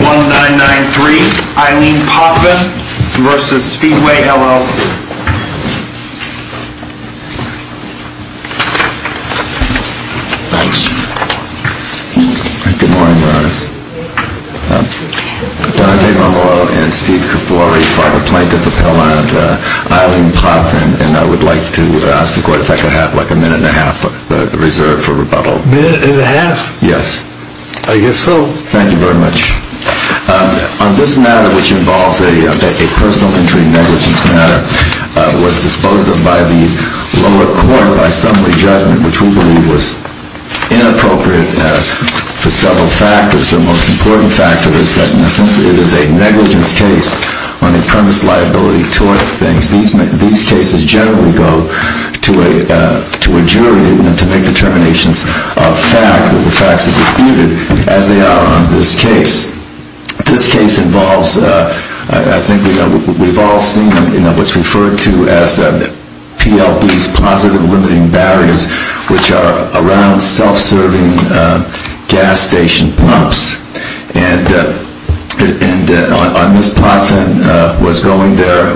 I would like to ask the court if I could have a minute and a half reserved for rebuttal. Yes. I guess so. Thank you very much. On this matter, which involves a personal injury negligence matter, was disposed of by the lower court by summary judgment, which we believe was inappropriate for several factors. The most important factor is that, in a sense, it is a negligence case on the premise liability toward things. These cases generally go to a jury to make determinations of facts that are disputed, as they are on this case. This case involves, I think we've all seen what's referred to as PLB's positive limiting barriers, which are around self-serving gas station pumps. Ms. Potvin was going there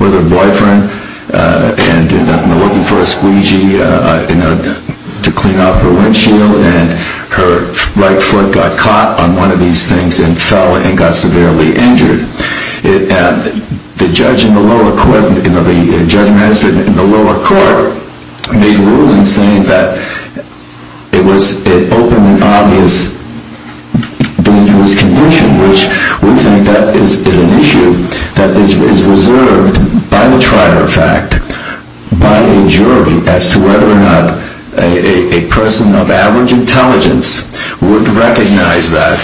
with her boyfriend and ended up looking for a squeegee to clean up her windshield, and her right foot got caught on one of these things and fell and got severely injured. The judge in the lower court made rulings saying that it was an open and obvious dangerous condition, which we think that is an issue that is reserved by the trier of fact by a jury as to whether or not a person of average intelligence would recognize that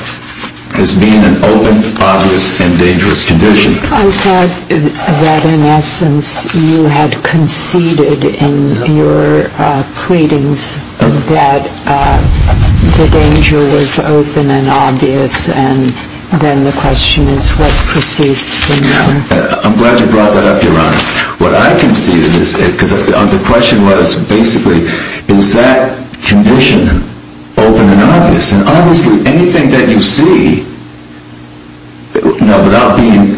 as being an open, obvious, and dangerous condition. I thought that, in essence, you had conceded in your pleadings that the danger was open and obvious, and then the question is what proceeds from that. I'm glad you brought that up, Your Honor. What I conceded, because the question was basically, is that condition open and obvious? Obviously, anything that you see, without being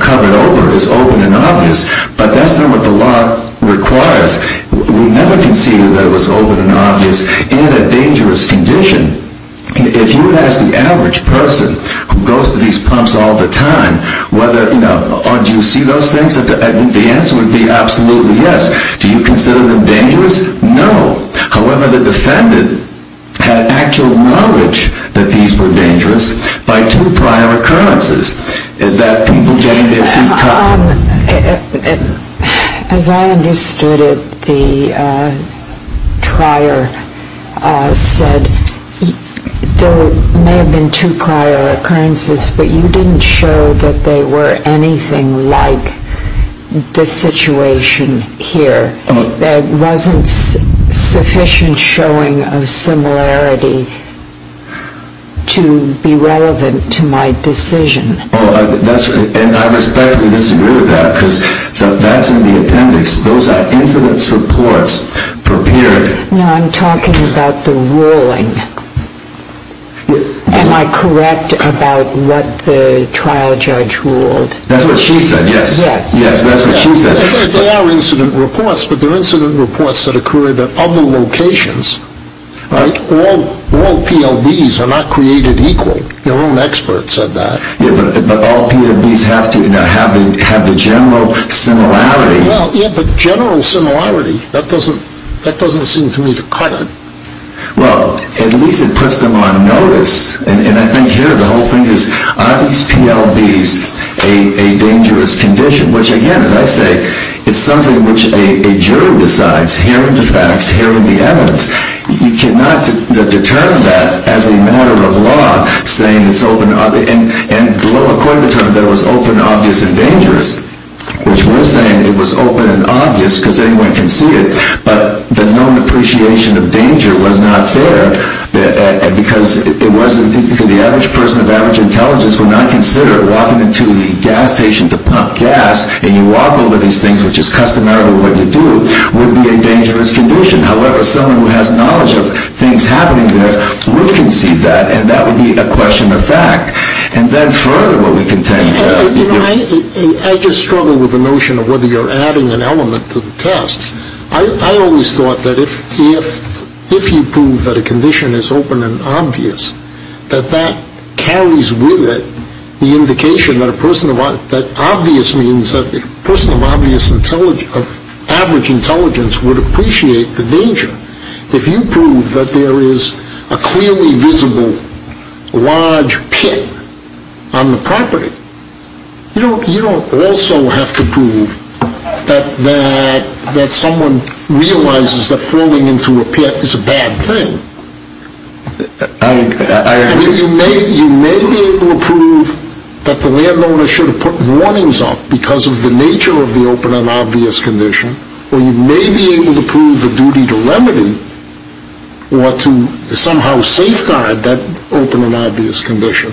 covered over, is open and obvious, but that's not what the law requires. We never conceded that it was open and obvious in a dangerous condition. If you would ask the average person who goes to these pumps all the time, do you see those things, the answer would be absolutely yes. Do you consider them dangerous? No. However, the defendant had actual knowledge that these were dangerous by two prior occurrences, that people getting their feet caught. As I understood it, the trier said there may have been two prior occurrences, but you didn't show that they were anything like this situation here. There wasn't sufficient showing of similarity to be relevant to my decision. I respectfully disagree with that, because that's in the appendix. Those are incident reports prepared. I'm talking about the ruling. Am I correct about what the trial judge ruled? That's what she said, yes. They are incident reports, but they're incident reports that occurred at other locations. All PLBs are not created equal. Your own expert said that. But all PLBs have to have the general similarity. But general similarity, that doesn't seem to me to cut it. Well, at least it puts them on notice. And I think here the whole thing is, are these PLBs a dangerous condition? Which, again, as I say, is something which a jury decides, hearing the facts, hearing the evidence. You cannot determine that as a matter of law, saying it's open. And the lower court determined that it was open, obvious, and dangerous, which we're saying it was open and obvious because anyone can see it. But the known appreciation of danger was not there, because the average person of average intelligence would not consider walking into a gas station to pump gas, and you walk over these things, which is customary with what you do, would be a dangerous condition. However, someone who has knowledge of things happening there will concede that, and that would be a question of fact. And then further, what we contend to... You know, I just struggle with the notion of whether you're adding an element to the test. I always thought that if you prove that a condition is open and obvious, that that carries with it the indication that obvious means that the person of average intelligence would appreciate the danger. If you prove that there is a clearly visible large pit on the property, you don't also have to prove that someone realizes that falling into a pit is a bad thing. I agree. You may be able to prove that the landowner should have put warnings up because of the nature of the open and obvious condition, or you may be able to prove the duty to remedy, or to somehow safeguard that open and obvious condition.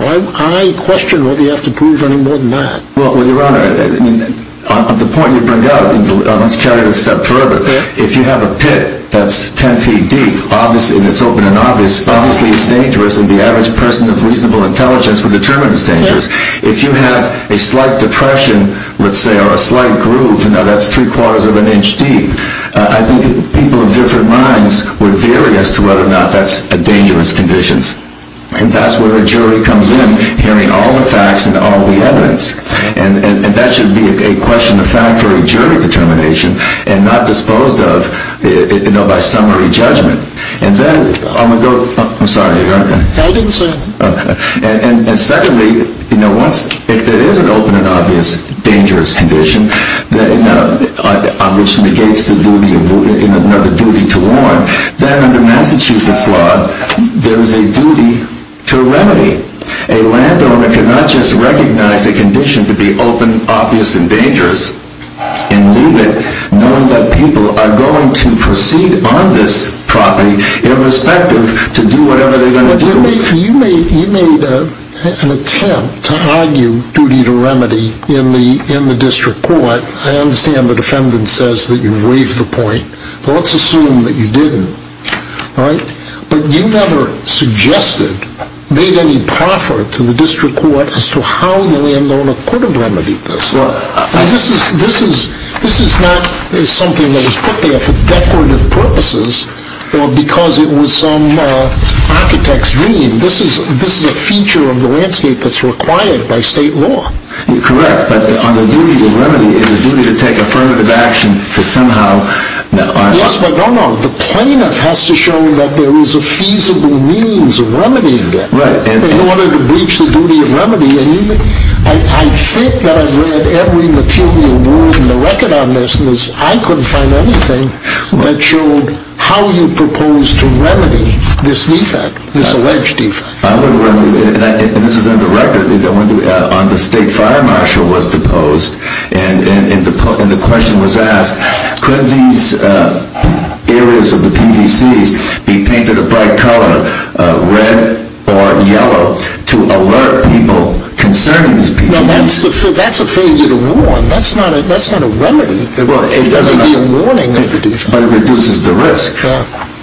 I question whether you have to prove any more than that. Well, Your Honor, the point you bring up, let's carry it a step further. If you have a pit that's ten feet deep, and it's open and obvious, obviously it's dangerous, and the average person of reasonable intelligence would determine it's dangerous. If you have a slight depression, let's say, or a slight groove, that's three quarters of an inch deep, I think people of different minds would vary as to whether or not that's a dangerous condition. And that's where a jury comes in, hearing all the facts and all the evidence. And that should be a question of fact or a jury determination, and not disposed of by summary judgment. And then, I'm going to go, I'm sorry, Your Honor. I didn't say anything. And secondly, if there is an open and obvious dangerous condition, on which negates the duty to warn, then under Massachusetts law, there is a duty to remedy. A landowner cannot just recognize a condition to be open, obvious, and dangerous, and leave it, knowing that people are going to proceed on this property, irrespective to do whatever they're going to do. You made an attempt to argue duty to remedy in the district court. I understand the defendant says that you've waived the point. Well, let's assume that you didn't, all right? But you never suggested, made any proffer to the district court, as to how the landowner could have remedied this. This is not something that was put there for decorative purposes or because it was some architect's dream. This is a feature of the landscape that's required by state law. Correct. But on the duty to remedy, is it a duty to take affirmative action to somehow? Yes, but no, no. The plaintiff has to show that there is a feasible means of remedying that. Right. In order to breach the duty of remedy. I think that I've read every material word in the record on this, and I couldn't find anything that showed how you propose to remedy this defect, this alleged defect. I would, and this is in the record, on the state fire marshal was deposed, and the question was asked, could these areas of the PVCs be painted a bright color, red or yellow, to alert people concerning this PVC? That's a failure to warn. That's not a remedy. It doesn't need a warning. But it reduces the risk.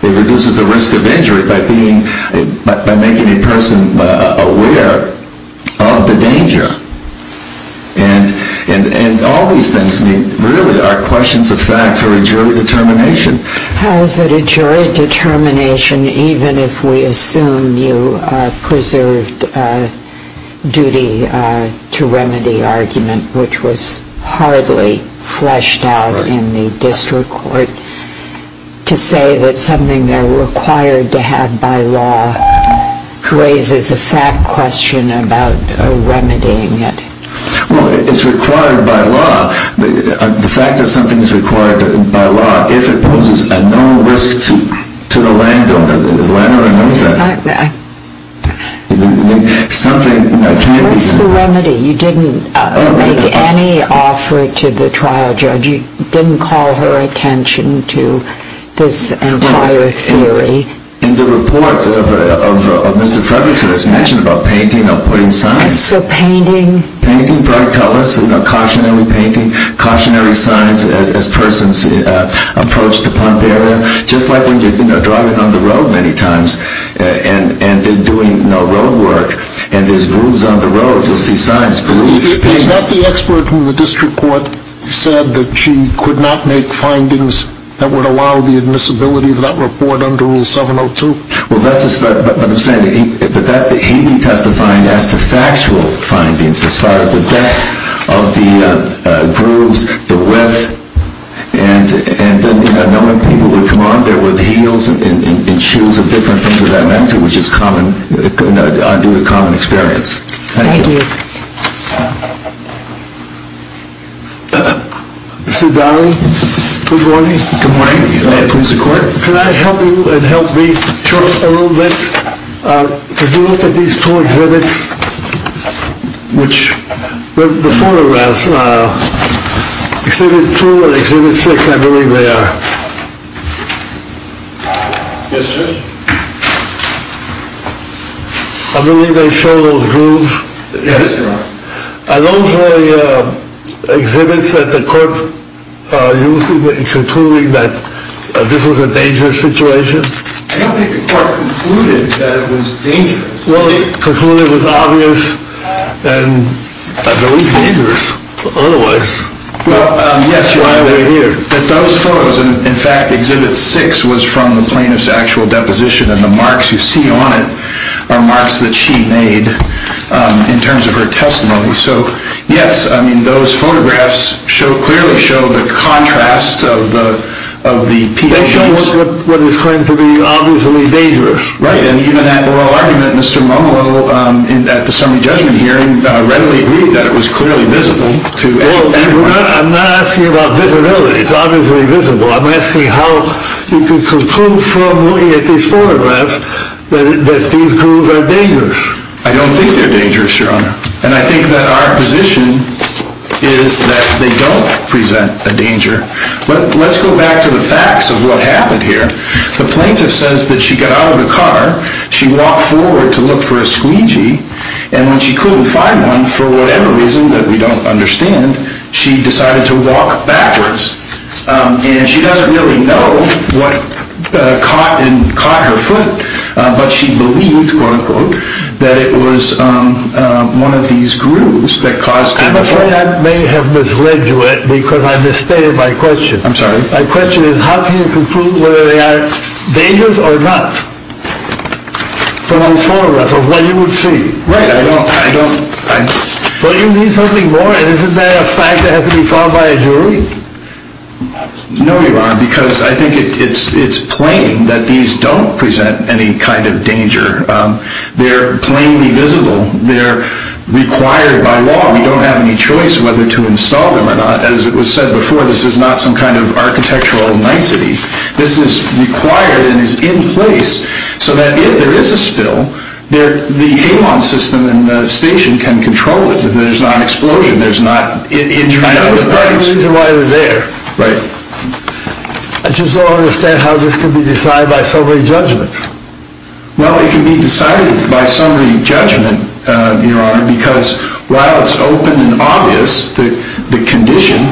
It reduces the risk of injury by making a person aware of the danger. And all these things really are questions of fact for a jury determination. How is it a jury determination, even if we assume you preserved duty to remedy argument, which was hardly fleshed out in the district court, to say that something they're required to have by law raises a fact question about remedying it? Well, it's required by law. The fact that something is required by law, if it poses a known risk to the landowner, the landowner knows that something can't be done. Where's the remedy? You didn't make any offer to the trial judge. You didn't call her attention to this entire theory. In the report of Mr. Frederickson, it's mentioned about painting or putting signs. So painting? Painting. Bright colors. Cautionary painting. Cautionary signs as persons approach the pump area. Just like when you're driving on the road many times and they're doing road work and there's grooves on the road, you'll see signs. Is that the expert in the district court said that she could not make findings that would allow the admissibility of that report under Rule 702? Well, that's what I'm saying. But he'd be testifying as to factual findings as far as the depth of the grooves, the width, and knowing people would come on there with heels and shoes of different things of that magnitude, which is due to common experience. Thank you. Thank you. Mr. Donnelly, good morning. Good morning. Please, the court. Could I help you and help me talk a little bit? Could you look at these two exhibits, which the photographs, Exhibit 2 and Exhibit 6, I believe they are. Yes, sir. I believe they show those grooves. Yes, sir. Are those the exhibits that the court used in concluding that this was a dangerous situation? I don't think the court concluded that it was dangerous. Well, it concluded it was obvious and I believe dangerous otherwise. Well, yes, while they're here. But those photos, in fact, Exhibit 6 was from the plaintiff's actual deposition, and the marks you see on it are marks that she made in terms of her testimony. So, yes, I mean, those photographs clearly show the contrast of the PDAs. They show what is claimed to be obviously dangerous. Right, and even that oral argument, Mr. Momolo, at the summary judgment hearing, readily agreed that it was clearly visible to everyone. Well, I'm not asking about visibility. It's obviously visible. I'm asking how you can conclude from looking at these photographs that these grooves are dangerous. I don't think they're dangerous, Your Honor, and I think that our position is that they don't present a danger. But let's go back to the facts of what happened here. The plaintiff says that she got out of the car, she walked forward to look for a squeegee, and when she couldn't find one for whatever reason that we don't understand, she decided to walk backwards. And she doesn't really know what caught her foot, but she believes, quote-unquote, that it was one of these grooves that caused her to walk. I'm afraid I may have misled you because I misstated my question. I'm sorry? My question is how can you conclude whether they are dangerous or not from the photographs of what you would see? Right, I don't, I don't. Well, you need something more, and isn't that a fact that has to be followed by a jury? No, Your Honor, because I think it's plain that these don't present any kind of danger. They're plainly visible. They're required by law. We don't have any choice whether to install them or not. As it was said before, this is not some kind of architectural nicety. This is required and is in place so that if there is a spill, the HALON system in the station can control it. There's not an explosion. There's not... I don't understand why they're there. Right. I just don't understand how this can be decided by summary judgment. Well, it can be decided by summary judgment, Your Honor, because while it's open and obvious, the condition,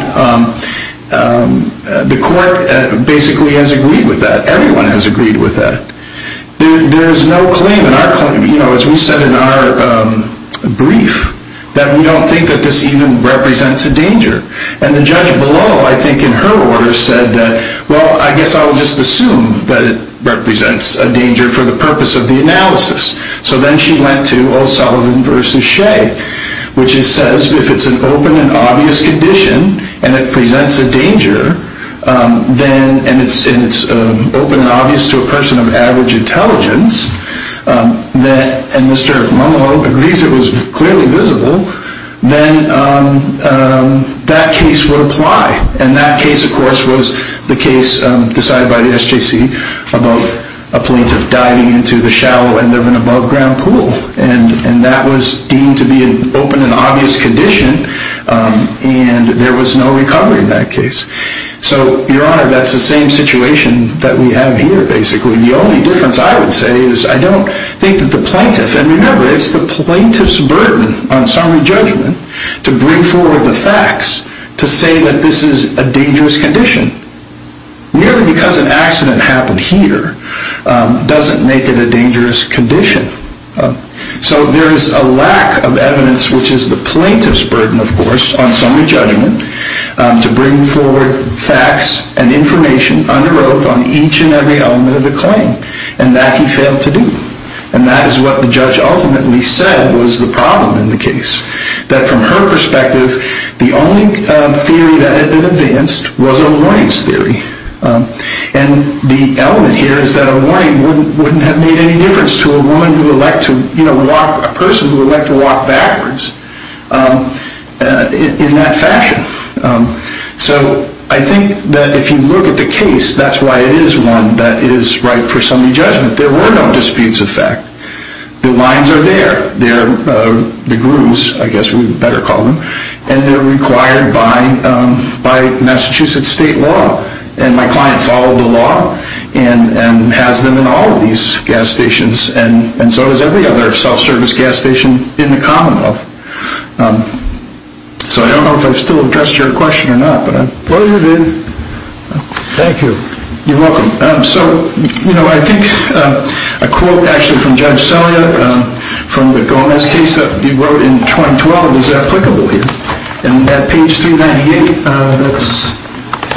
the court basically has agreed with that. Everyone has agreed with that. There's no claim in our claim, you know, as we said in our brief, that we don't think that this even represents a danger. And the judge below, I think, in her order said that, well, I guess I'll just assume that it represents a danger for the purpose of the analysis. So then she went to O'Sullivan v. Shea, which says if it's an open and obvious condition and it presents a danger and it's open and obvious to a person of average intelligence, and Mr. Mungau agrees it was clearly visible, then that case would apply. And that case, of course, was the case decided by the SJC about a plaintiff diving into the shallow end of an above-ground pool. And that was deemed to be an open and obvious condition, and there was no recovery in that case. So, Your Honor, that's the same situation that we have here, basically. The only difference, I would say, is I don't think that the plaintiff... on summary judgment to bring forward the facts to say that this is a dangerous condition. Merely because an accident happened here doesn't make it a dangerous condition. So there is a lack of evidence, which is the plaintiff's burden, of course, on summary judgment to bring forward facts and information under oath on each and every element of the claim, and that he failed to do. And that is what the judge ultimately said was the problem in the case. That from her perspective, the only theory that had been advanced was Owain's theory. And the element here is that Owain wouldn't have made any difference to a person who would like to walk backwards in that fashion. So I think that if you look at the case, that's why it is one that is right for summary judgment. There were no disputes of fact. The lines are there. The grooves, I guess we would better call them. And they're required by Massachusetts state law. And my client followed the law and has them in all of these gas stations and so does every other self-service gas station in the Commonwealth. So I don't know if I've still addressed your question or not. Well, you did. Thank you. You're welcome. So, you know, I think a quote actually from Judge Selya from the Gomez case that he wrote in 2012 is applicable here. And at page 398, that's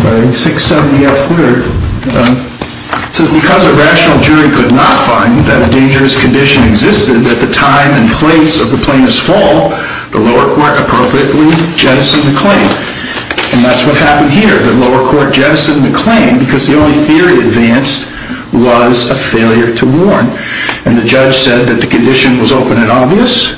by 670F Woodard, it says, Because a rational jury could not find that a dangerous condition existed at the time and place of the plaintiff's fall, the lower court appropriately jettisoned the claim. And that's what happened here. The lower court jettisoned the claim because the only theory advanced was a failure to warn. And the judge said that the condition was open and obvious.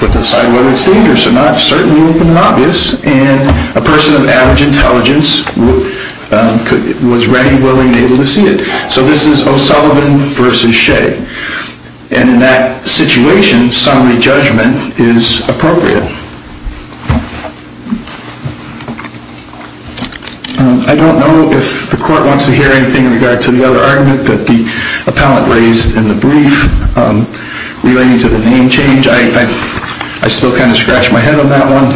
Put aside whether it's dangerous or not, it's certainly open and obvious. And a person of average intelligence was ready, willing, and able to see it. So this is O'Sullivan v. Shea. And in that situation, summary judgment is appropriate. I don't know if the court wants to hear anything in regard to the other argument that the appellant raised in the brief relating to the name change. I still kind of scratched my head on that one.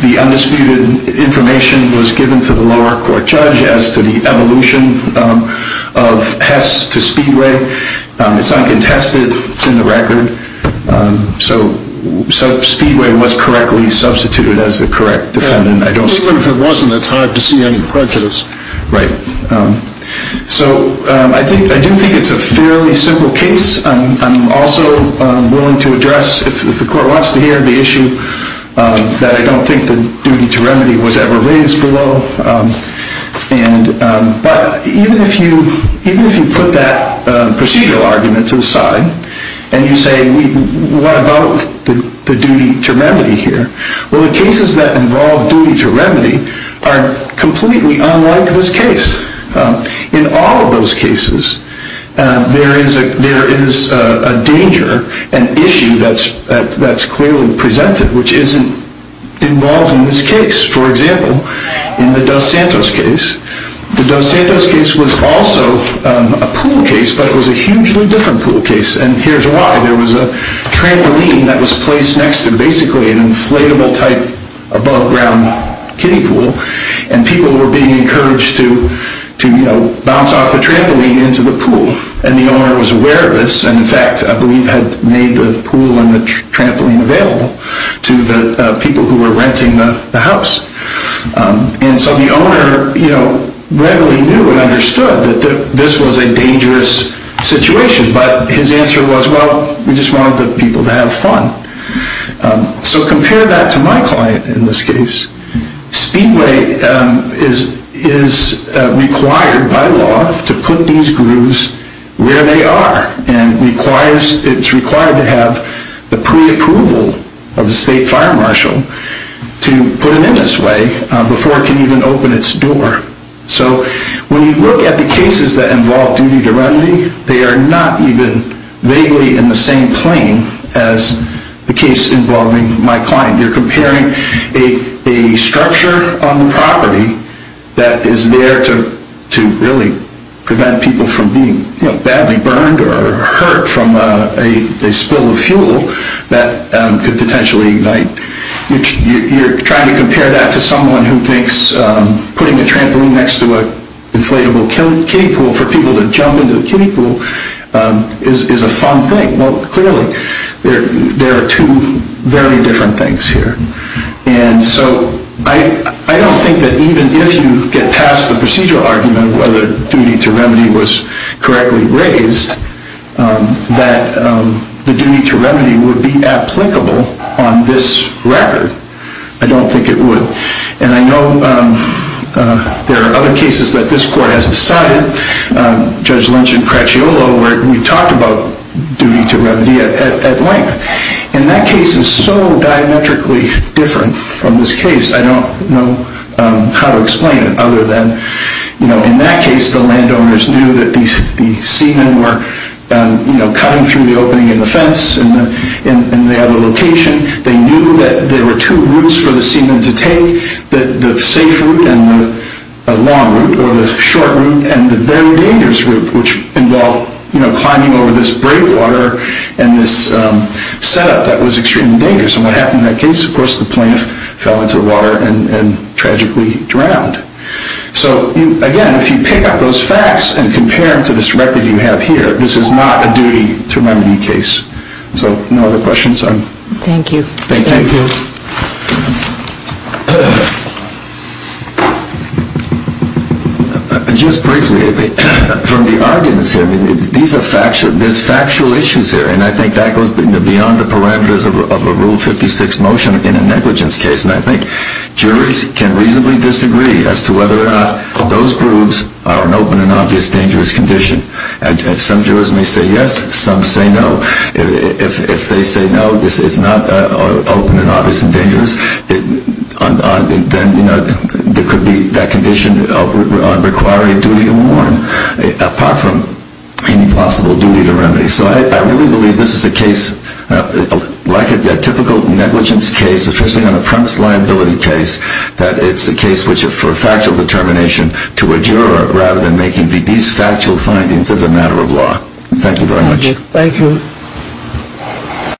The undisputed information was given to the lower court judge as to the evolution of Hess to Speedway. It's uncontested. It's in the record. So Speedway was correctly substituted as the correct defendant. Even if it wasn't, it's hard to see any prejudice. Right. So I do think it's a fairly simple case. I'm also willing to address, if the court wants to hear, the issue that I don't think the duty to remedy was ever raised below. But even if you put that procedural argument to the side and you say, what about the duty to remedy here? Well, the cases that involve duty to remedy are completely unlike this case. In all of those cases, there is a danger, an issue that's clearly presented, which isn't involved in this case. For example, in the Dos Santos case, the Dos Santos case was also a pool case, but it was a hugely different pool case. And here's why. There was a trampoline that was placed next to basically an inflatable-type above-ground kiddie pool, and people were being encouraged to bounce off the trampoline into the pool. And the owner was aware of this, and, in fact, I believe had made the pool and the trampoline available to the people who were renting the house. And so the owner readily knew and understood that this was a dangerous situation, but his answer was, well, we just wanted the people to have fun. So compare that to my client in this case. Speedway is required by law to put these grooves where they are, and it's required to have the preapproval of the state fire marshal to put it in this way before it can even open its door. So when you look at the cases that involve duty to remedy, they are not even vaguely in the same plane as the case involving my client. You're comparing a structure on the property that is there to really prevent people from being badly burned or hurt from a spill of fuel that could potentially ignite. You're trying to compare that to someone who thinks putting a trampoline next to an inflatable kiddie pool for people to jump into the kiddie pool is a fun thing. Well, clearly, there are two very different things here. And so I don't think that even if you get past the procedural argument whether duty to remedy was correctly raised, that the duty to remedy would be applicable on this record. I don't think it would. And I know there are other cases that this court has decided, Judge Lynch and Cracciolo, where we talked about duty to remedy at length. And that case is so diametrically different from this case, I don't know how to explain it other than, you know, In that case, the landowners knew that the seamen were, you know, cutting through the opening in the fence in the other location. They knew that there were two routes for the seamen to take, the safe route and the long route, or the short route, and the very dangerous route, which involved, you know, climbing over this breakwater and this setup that was extremely dangerous. And what happened in that case? Of course, the plaintiff fell into the water and tragically drowned. So, again, if you pick up those facts and compare them to this record you have here, this is not a duty to remedy case. So, no other questions? Thank you. Thank you. Just briefly, from the arguments here, these are factual, there's factual issues here, and I think that goes beyond the parameters of a Rule 56 motion in a negligence case. And I think juries can reasonably disagree as to whether or not those groups are in an open and obvious dangerous condition. Some jurors may say yes, some say no. If they say no, it's not open and obvious and dangerous, then, you know, there could be that condition requiring a duty to warn, apart from any possible duty to remedy. So I really believe this is a case, like a typical negligence case, especially on a premise liability case, that it's a case for factual determination to a juror rather than making these factual findings as a matter of law. Thank you very much. Thank you.